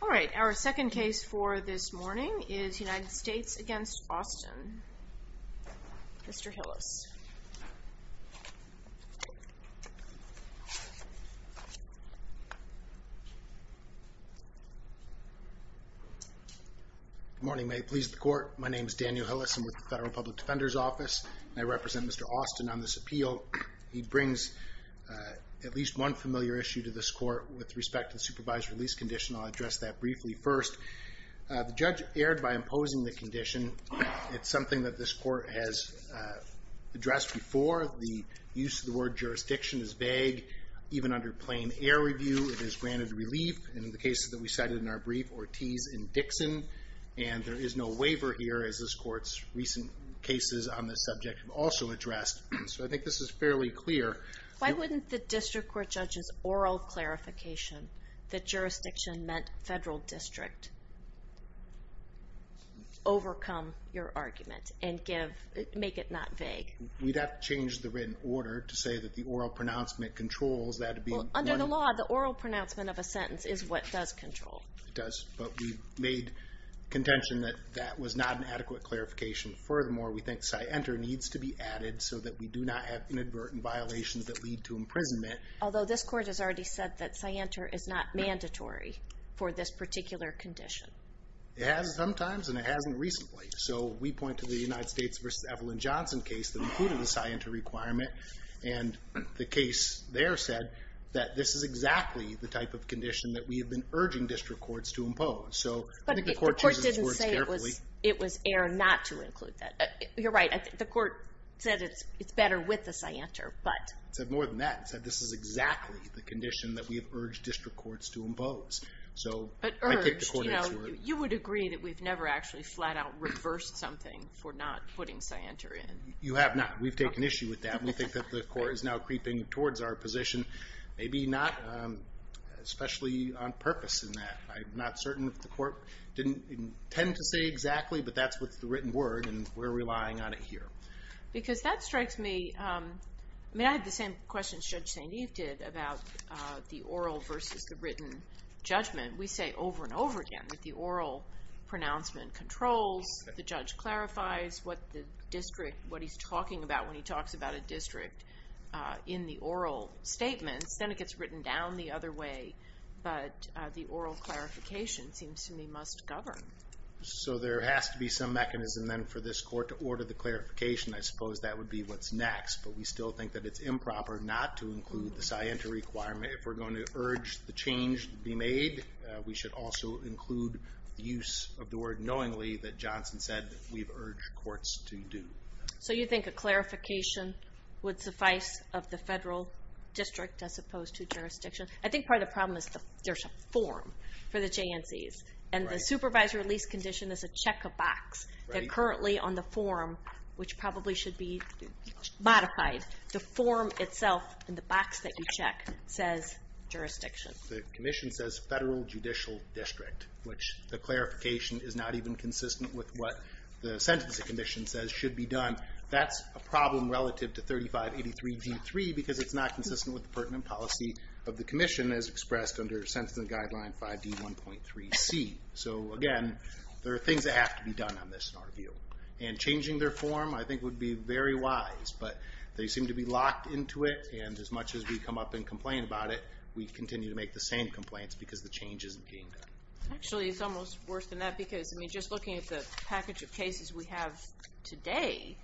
All right, our second case for this morning is United States v. Austin. Mr. Hillis. Good morning. May it please the court. My name is Daniel Hillis. I'm with the Federal Public Defender's Office. I represent Mr. Austin on this appeal. He brings at least one familiar issue to this court with respect to the supervised release condition. I'll address that briefly first. The judge erred by imposing the condition. It's something that this court has addressed before. The use of the word jurisdiction is vague. Even under plain air review, it is granted relief. In the case that we cited in our brief, Ortiz v. Dixon, and there is no waiver here as this court's recent cases on this subject have also addressed. So I think this is fairly clear. Why wouldn't the district court judge's oral clarification that jurisdiction meant federal district overcome your argument and make it not vague? We'd have to change the written order to say that the oral pronouncement controls that. Under the law, the oral pronouncement of a sentence is what does control. It does, but we made contention that that was not an adequate clarification. Furthermore, we think scienter needs to be added so that we do not have inadvertent violations that lead to imprisonment. Although this court has already said that scienter is not mandatory for this particular condition. It has sometimes, and it hasn't recently. So we point to the United States v. Evelyn Johnson case that included the scienter requirement, and the case there said that this is exactly the type of condition that we have been urging district courts to impose. But the court didn't say it was error not to include that. You're right. The court said it's better with the scienter. It said more than that. It said this is exactly the condition that we have urged district courts to impose. But urged, you would agree that we've never actually flat out reversed something for not putting scienter in. You have not. We've taken issue with that. We think that the court is now creeping towards our position. Maybe not, especially on purpose in that. I'm not certain if the court didn't intend to say exactly, but that's what's the written word, and we're relying on it here. Because that strikes me, I had the same question Judge St. Eve did about the oral versus the written judgment. We say over and over again that the oral pronouncement controls, the judge clarifies what the district, what he's talking about when he talks about a district in the oral statements. Then it gets written down the other way, but the oral clarification seems to me must govern. So there has to be some mechanism then for this court to order the clarification. I suppose that would be what's next. But we still think that it's improper not to include the scienter requirement. If we're going to urge the change to be made, we should also include the use of the word knowingly that Johnson said we've urged courts to do. So you think a clarification would suffice of the federal district as opposed to jurisdiction? I think part of the problem is there's a form for the JNCs, and the supervisor release condition is a check of box. They're currently on the form, which probably should be modified. The form itself in the box that you check says jurisdiction. The commission says federal judicial district, which the clarification is not even consistent with what the sentencing commission says should be done. That's a problem relative to 3583D3 because it's not consistent with the pertinent policy of the commission as expressed under sentencing guideline 5D1.3C. So again, there are things that have to be done on this in our view. And changing their form I think would be very wise, but they seem to be locked into it. And as much as we come up and complain about it, we continue to make the same complaints because the change isn't being done. Actually, it's almost worse than that because just looking at the package of cases we have today,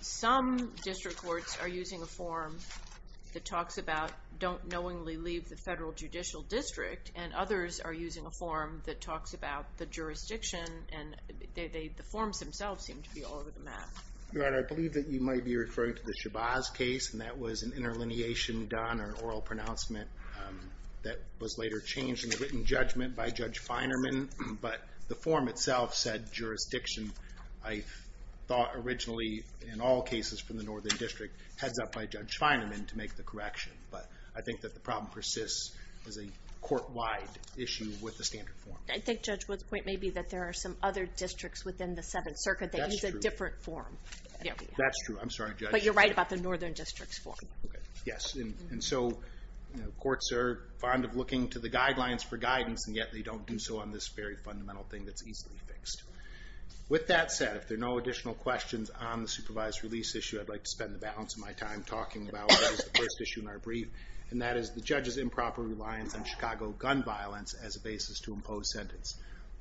some district courts are using a form that talks about don't knowingly leave the federal judicial district, and others are using a form that talks about the jurisdiction, and the forms themselves seem to be all over the map. I believe that you might be referring to the Shabazz case, and that was an interlineation done, or an oral pronouncement that was later changed in the written judgment by Judge Feinerman, but the form itself said jurisdiction. I thought originally in all cases from the Northern District heads up by Judge Feinerman to make the correction, but I think that the problem persists as a court-wide issue with the standard form. I think Judge Wood's point may be that there are some other districts within the Seventh Circuit that use a different form. That's true. I'm sorry, Judge. But you're right about the Northern District's form. Okay, yes, and so courts are fond of looking to the guidelines for guidance, and yet they don't do so on this very fundamental thing that's easily fixed. With that said, if there are no additional questions on the supervised release issue, I'd like to spend the balance of my time talking about the first issue in our brief, and that is the judge's improper reliance on Chicago gun violence as a basis to impose sentence.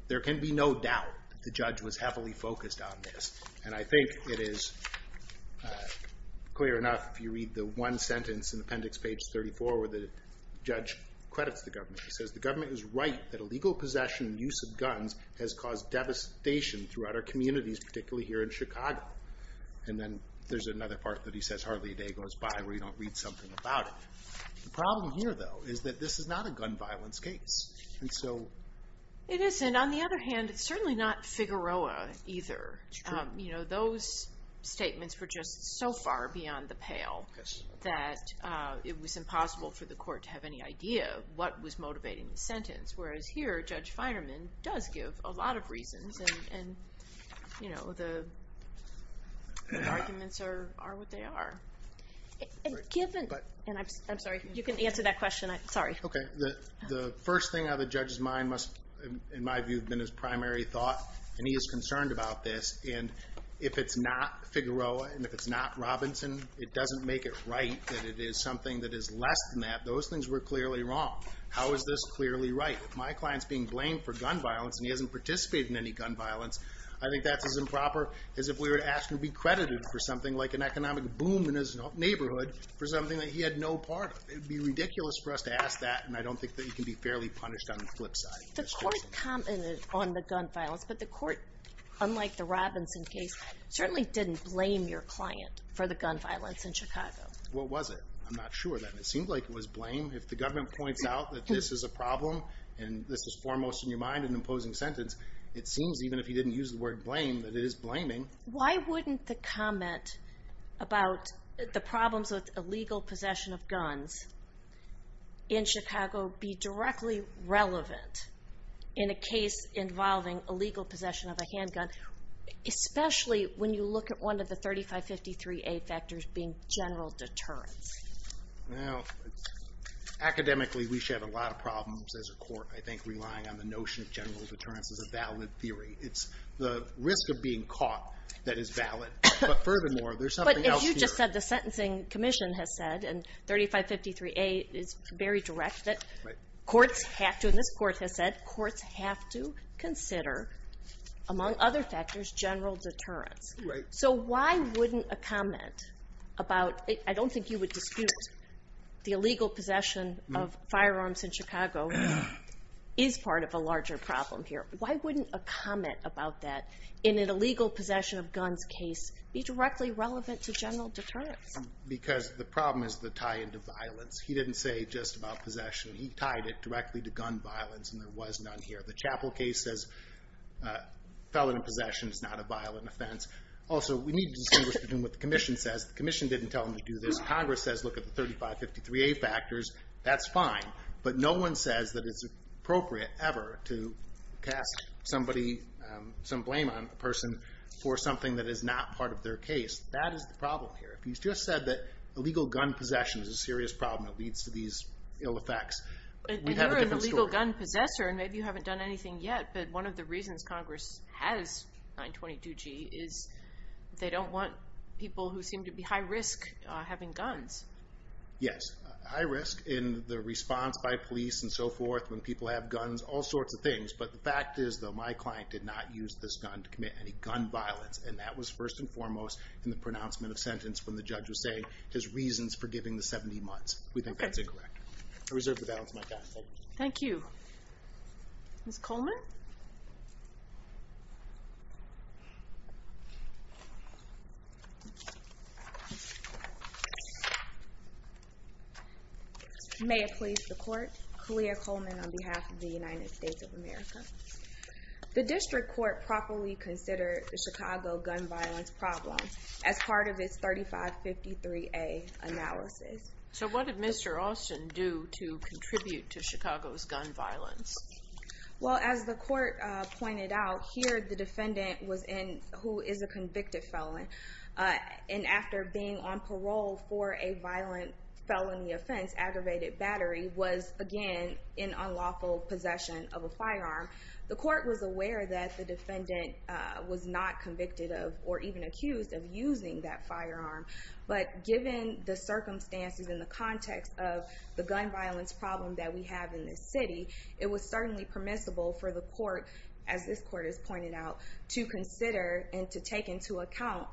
There can be no doubt that the judge was heavily focused on this, and I think it is clear enough if you read the one sentence in appendix page 34 where the judge credits the government. He says, The government is right that illegal possession and use of guns has caused devastation throughout our communities, particularly here in Chicago. And then there's another part that he says hardly a day goes by where you don't read something about it. The problem here, though, is that this is not a gun violence case. It isn't. On the other hand, it's certainly not Figueroa either. It's true. Those statements were just so far beyond the pale that it was impossible for the court to have any idea of what was motivating the sentence. Whereas here, Judge Feinerman does give a lot of reasons, and the arguments are what they are. I'm sorry, you can answer that question. Sorry. Okay. The first thing out of the judge's mind must, in my view, have been his primary thought, and he is concerned about this. And if it's not Figueroa and if it's not Robinson, it doesn't make it right that it is something that is less than that. Those things were clearly wrong. How is this clearly right? If my client's being blamed for gun violence and he hasn't participated in any gun violence, I think that's as improper as if we were to ask him to be credited for something like an economic boom in his neighborhood for something that he had no part of. It would be ridiculous for us to ask that, and I don't think that he can be fairly punished on the flip side. The court commented on the gun violence, but the court, unlike the Robinson case, certainly didn't blame your client for the gun violence in Chicago. What was it? I'm not sure. It seemed like it was blame. If the government points out that this is a problem and this is foremost in your mind, an imposing sentence, it seems even if you didn't use the word blame that it is blaming. Why wouldn't the comment about the problems with illegal possession of guns in Chicago be directly relevant in a case involving illegal possession of a handgun, especially when you look at one of the 3553A factors being general deterrence? Academically, we should have a lot of problems as a court, I think, relying on the notion of general deterrence as a valid theory. It's the risk of being caught that is valid. But furthermore, there's something else here. But as you just said, the sentencing commission has said, and 3553A is very direct, that courts have to, and this court has said, courts have to consider, among other factors, general deterrence. Right. So why wouldn't a comment about, I don't think you would dispute the illegal possession of firearms in Chicago is part of a larger problem here. Why wouldn't a comment about that in an illegal possession of guns case be directly relevant to general deterrence? Because the problem is the tie-in to violence. He didn't say just about possession. He tied it directly to gun violence, and there was none here. The Chapel case says felon in possession is not a violent offense. Also, we need to distinguish between what the commission says. The commission didn't tell them to do this. Congress says look at the 3553A factors. That's fine. But no one says that it's appropriate ever to cast some blame on a person for something that is not part of their case. That is the problem here. If you just said that illegal gun possession is a serious problem that leads to these ill effects, we'd have a different story. And you're an illegal gun possessor, and maybe you haven't done anything yet. But one of the reasons Congress has 922G is they don't want people who seem to be high risk having guns. Yes. High risk in the response by police and so forth when people have guns. All sorts of things. But the fact is, though, my client did not use this gun to commit any gun violence. And that was first and foremost in the pronouncement of sentence when the judge was saying his reasons for giving the 70 months. We think that's incorrect. I reserve the balance of my time. Thank you. Thank you. Ms. Coleman? May it please the court. Kalia Coleman on behalf of the United States of America. The district court properly considered the Chicago gun violence problem as part of its 3553A analysis. So what did Mr. Austin do to contribute to Chicago's gun violence? Well, as the court pointed out, here the defendant was in who is a convicted felon. And after being on parole for a violent felony offense, aggravated battery, was, again, in unlawful possession of a firearm. The court was aware that the defendant was not convicted of or even accused of using that firearm. But given the circumstances and the context of the gun violence problem that we have in this city, it was certainly permissible for the court, as this court has pointed out, to consider and to take into account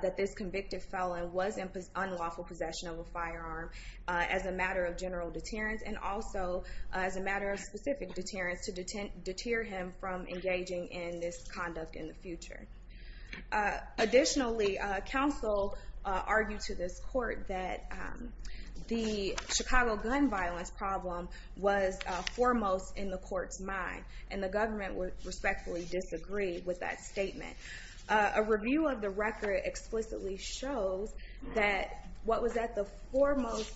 that this convicted felon was in unlawful possession of a firearm as a matter of general deterrence and also as a matter of specific deterrence to deter him from engaging in this conduct in the future. Additionally, counsel argued to this court that the Chicago gun violence problem was foremost in the court's mind. And the government respectfully disagreed with that statement. A review of the record explicitly shows that what was at the foremost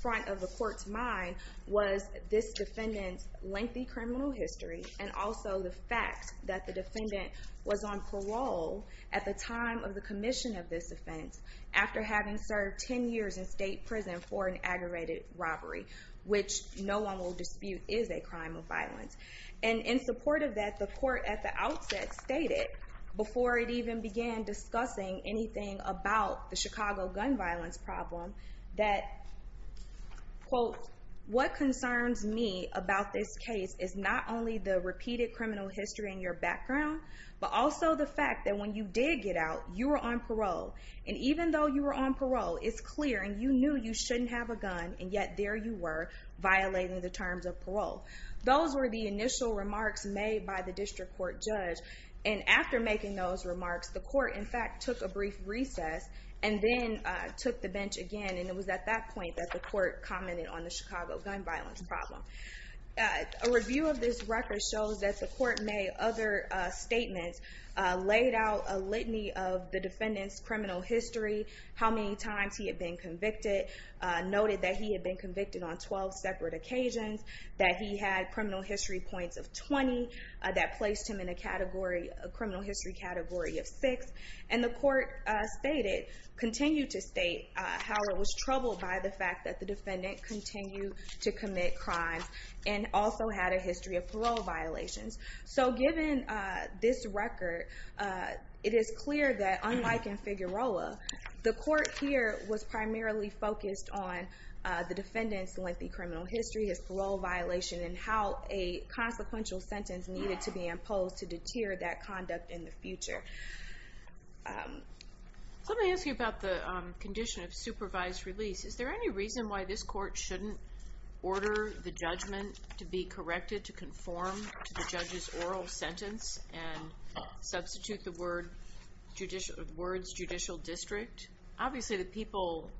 front of the court's mind was this defendant's lengthy criminal history and also the fact that the defendant was on parole at the time of the commission of this offense after having served 10 years in state prison for an aggravated robbery, which no one will dispute is a crime of violence. And in support of that, the court at the outset stated, before it even began discussing anything about the Chicago gun violence problem, that, quote, what concerns me about this case is not only the repeated criminal history in your background, but also the fact that when you did get out, you were on parole. And even though you were on parole, it's clear, and you knew you shouldn't have a gun, and yet there you were, violating the terms of parole. Those were the initial remarks made by the district court judge. And after making those remarks, the court, in fact, took a brief recess and then took the bench again. And it was at that point that the court commented on the Chicago gun violence problem. A review of this record shows that the court made other statements, laid out a litany of the defendant's criminal history, how many times he had been convicted, noted that he had been convicted on 12 separate occasions, that he had criminal history points of 20, that placed him in a criminal history category of six. And the court continued to state how it was troubled by the fact that the defendant continued to commit crimes and also had a history of parole violations. So given this record, it is clear that, unlike in Figueroa, the court here was primarily focused on the defendant's lengthy criminal history, his parole violation, and how a consequential sentence needed to be imposed to deter that conduct in the future. Let me ask you about the condition of supervised release. Is there any reason why this court shouldn't order the judgment to be corrected, to conform to the judge's oral sentence and substitute the words judicial district? Obviously, the people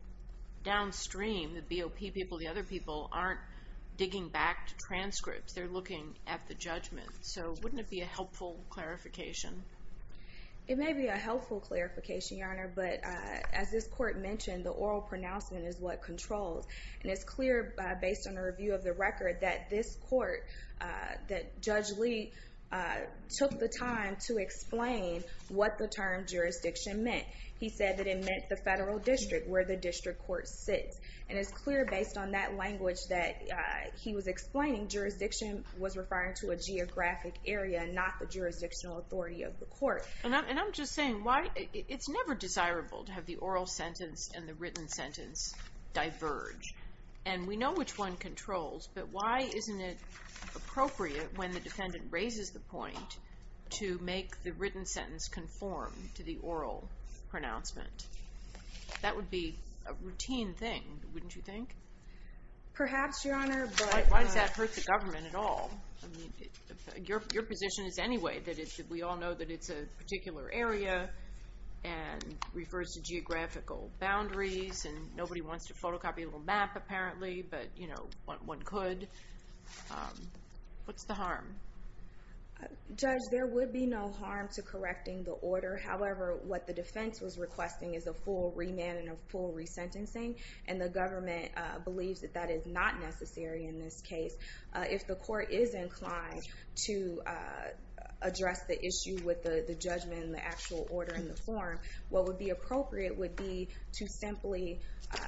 downstream, the BOP people, the other people, aren't digging back to transcripts. They're looking at the judgment. So wouldn't it be a helpful clarification? It may be a helpful clarification, Your Honor, but as this court mentioned, the oral pronouncement is what controls. And it's clear, based on a review of the record, that this court, that Judge Lee took the time to explain what the term jurisdiction meant. He said that it meant the federal district, where the district court sits. And it's clear, based on that language that he was explaining, jurisdiction was referring to a geographic area, not the jurisdictional authority of the court. And I'm just saying, it's never desirable to have the oral sentence and the written sentence diverge. And we know which one controls, but why isn't it appropriate, when the defendant raises the point, to make the written sentence conform to the oral pronouncement? That would be a routine thing, wouldn't you think? Perhaps, Your Honor. Why does that hurt the government at all? Your position is anyway that we all know that it's a particular area and refers to geographical boundaries and nobody wants to photocopy a little map, apparently, but one could. What's the harm? Judge, there would be no harm to correcting the order. However, what the defense was requesting is a full remand and a full resentencing, and the government believes that that is not necessary in this case. If the court is inclined to address the issue with the judgment and the actual order in the form, what would be appropriate would be to simply,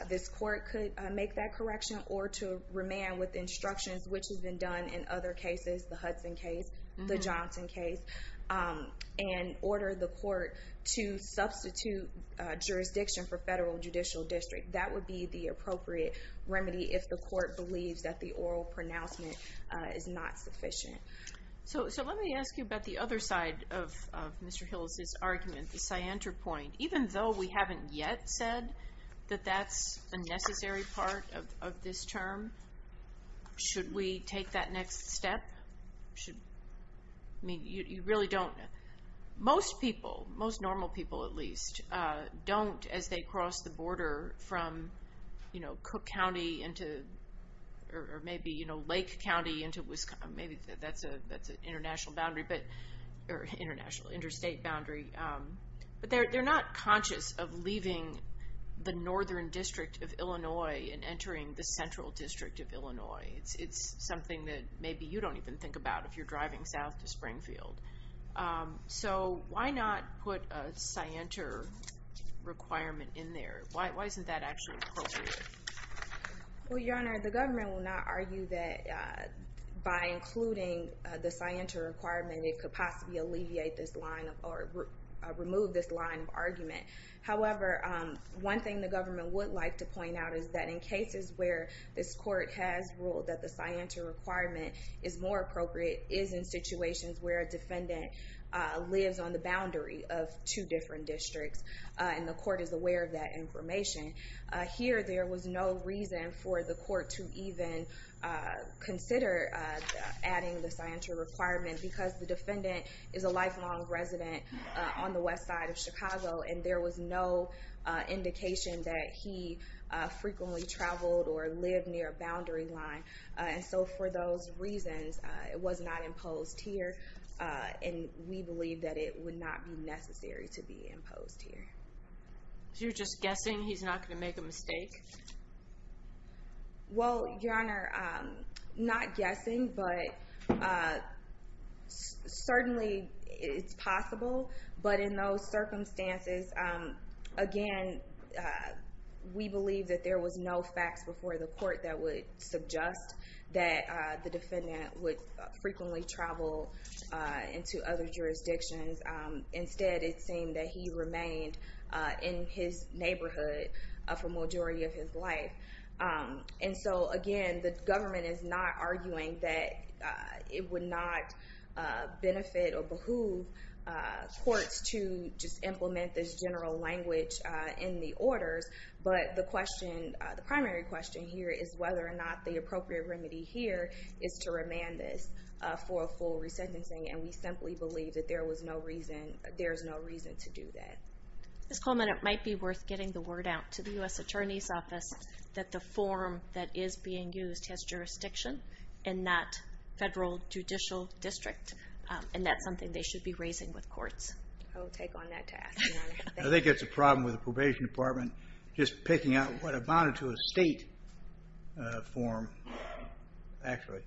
this court could make that correction, or to remand with instructions, which has been done in other cases, the Hudson case, the Johnson case, and order the court to substitute jurisdiction for federal judicial district. That would be the appropriate remedy if the court believes that the oral pronouncement is not sufficient. So let me ask you about the other side of Mr. Hills' argument, the cyanter point. Even though we haven't yet said that that's a necessary part of this term, should we take that next step? You really don't. Most people, most normal people at least, don't as they cross the border from Cook County into, or maybe Lake County into, maybe that's an international boundary, or interstate boundary. But they're not conscious of leaving the northern district of Illinois and entering the central district of Illinois. It's something that maybe you don't even think about if you're driving south to Springfield. So why not put a cyanter requirement in there? Why isn't that actually appropriate? Well, Your Honor, the government will not argue that by including the cyanter requirement, it could possibly alleviate this line or remove this line of argument. However, one thing the government would like to point out is that in cases where this court has ruled that the cyanter requirement is more appropriate, is in situations where a defendant lives on the boundary of two different districts, and the court is aware of that information. Here, there was no reason for the court to even consider adding the cyanter requirement, because the defendant is a lifelong resident on the west side of Chicago, and there was no indication that he frequently traveled or lived near a boundary line. And so for those reasons, it was not imposed here, and we believe that it would not be necessary to be imposed here. So you're just guessing he's not going to make a mistake? Well, Your Honor, not guessing, but certainly it's possible. But in those circumstances, again, we believe that there was no facts before the court that would suggest that the defendant would frequently travel into other jurisdictions. Instead, it seemed that he remained in his neighborhood for the majority of his life. And so, again, the government is not arguing that it would not benefit or behoove courts to just implement this general language in the orders. But the primary question here is whether or not the appropriate remedy here is to remand this for a full resentencing, and we simply believe that there is no reason to do that. Ms. Coleman, it might be worth getting the word out to the U.S. Attorney's Office that the form that is being used has jurisdiction in that federal judicial district, and that's something they should be raising with courts. I will take on that task, Your Honor. I think it's a problem with the Probation Department just picking out what amounted to a state form, actually.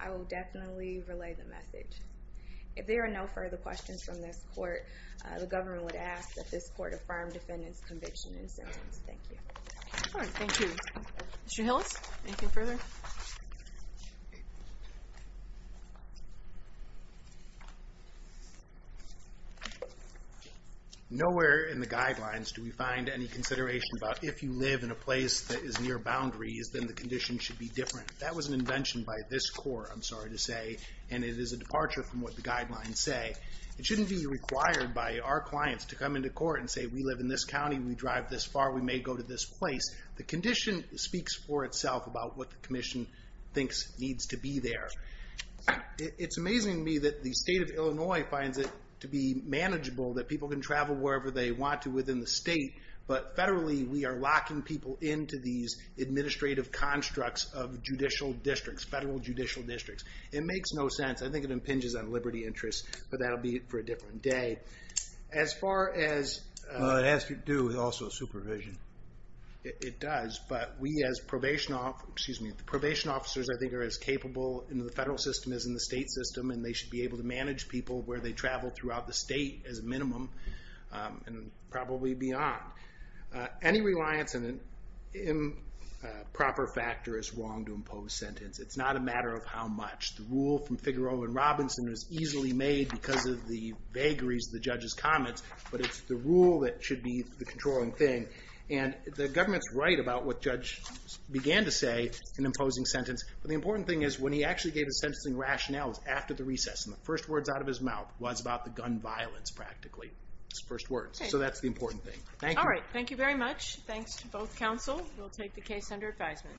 I will definitely relay the message. If there are no further questions from this court, the government would ask that this court affirm defendant's conviction and sentence. Thank you. All right, thank you. Mr. Hillis, anything further? Nowhere in the guidelines do we find any consideration about if you live in a place that is near boundaries, then the condition should be different. That was an invention by this court, I'm sorry to say, and it is a departure from what the guidelines say. It shouldn't be required by our clients to come into court and say, we live in this county, we drive this far, we may go to this place. The condition speaks for itself about what the commission thinks needs to be there. It's amazing to me that the state of Illinois finds it to be manageable that people can travel wherever they want to within the state, but federally we are locking people into these administrative constructs of judicial districts, federal judicial districts. It makes no sense, I think it impinges on liberty interests, but that will be for a different day. As far as... It has to do with also supervision. It does, but we as probation officers, I think are as capable in the federal system as in the state system, and they should be able to manage people where they travel throughout the state as a minimum, and probably beyond. Any reliance on an improper factor is wrong to impose sentence. It's not a matter of how much. The rule from Figueroa and Robinson was easily made because of the vagaries of the judge's comments, but it's the rule that should be the controlling thing. And the government's right about what judges began to say in imposing sentence, but the important thing is when he actually gave his sentencing rationales after the recess, and the first words out of his mouth was about the gun violence practically, his first words. So that's the important thing. Thank you. All right, thank you very much. Thanks to both counsel. We'll take the case under advisement.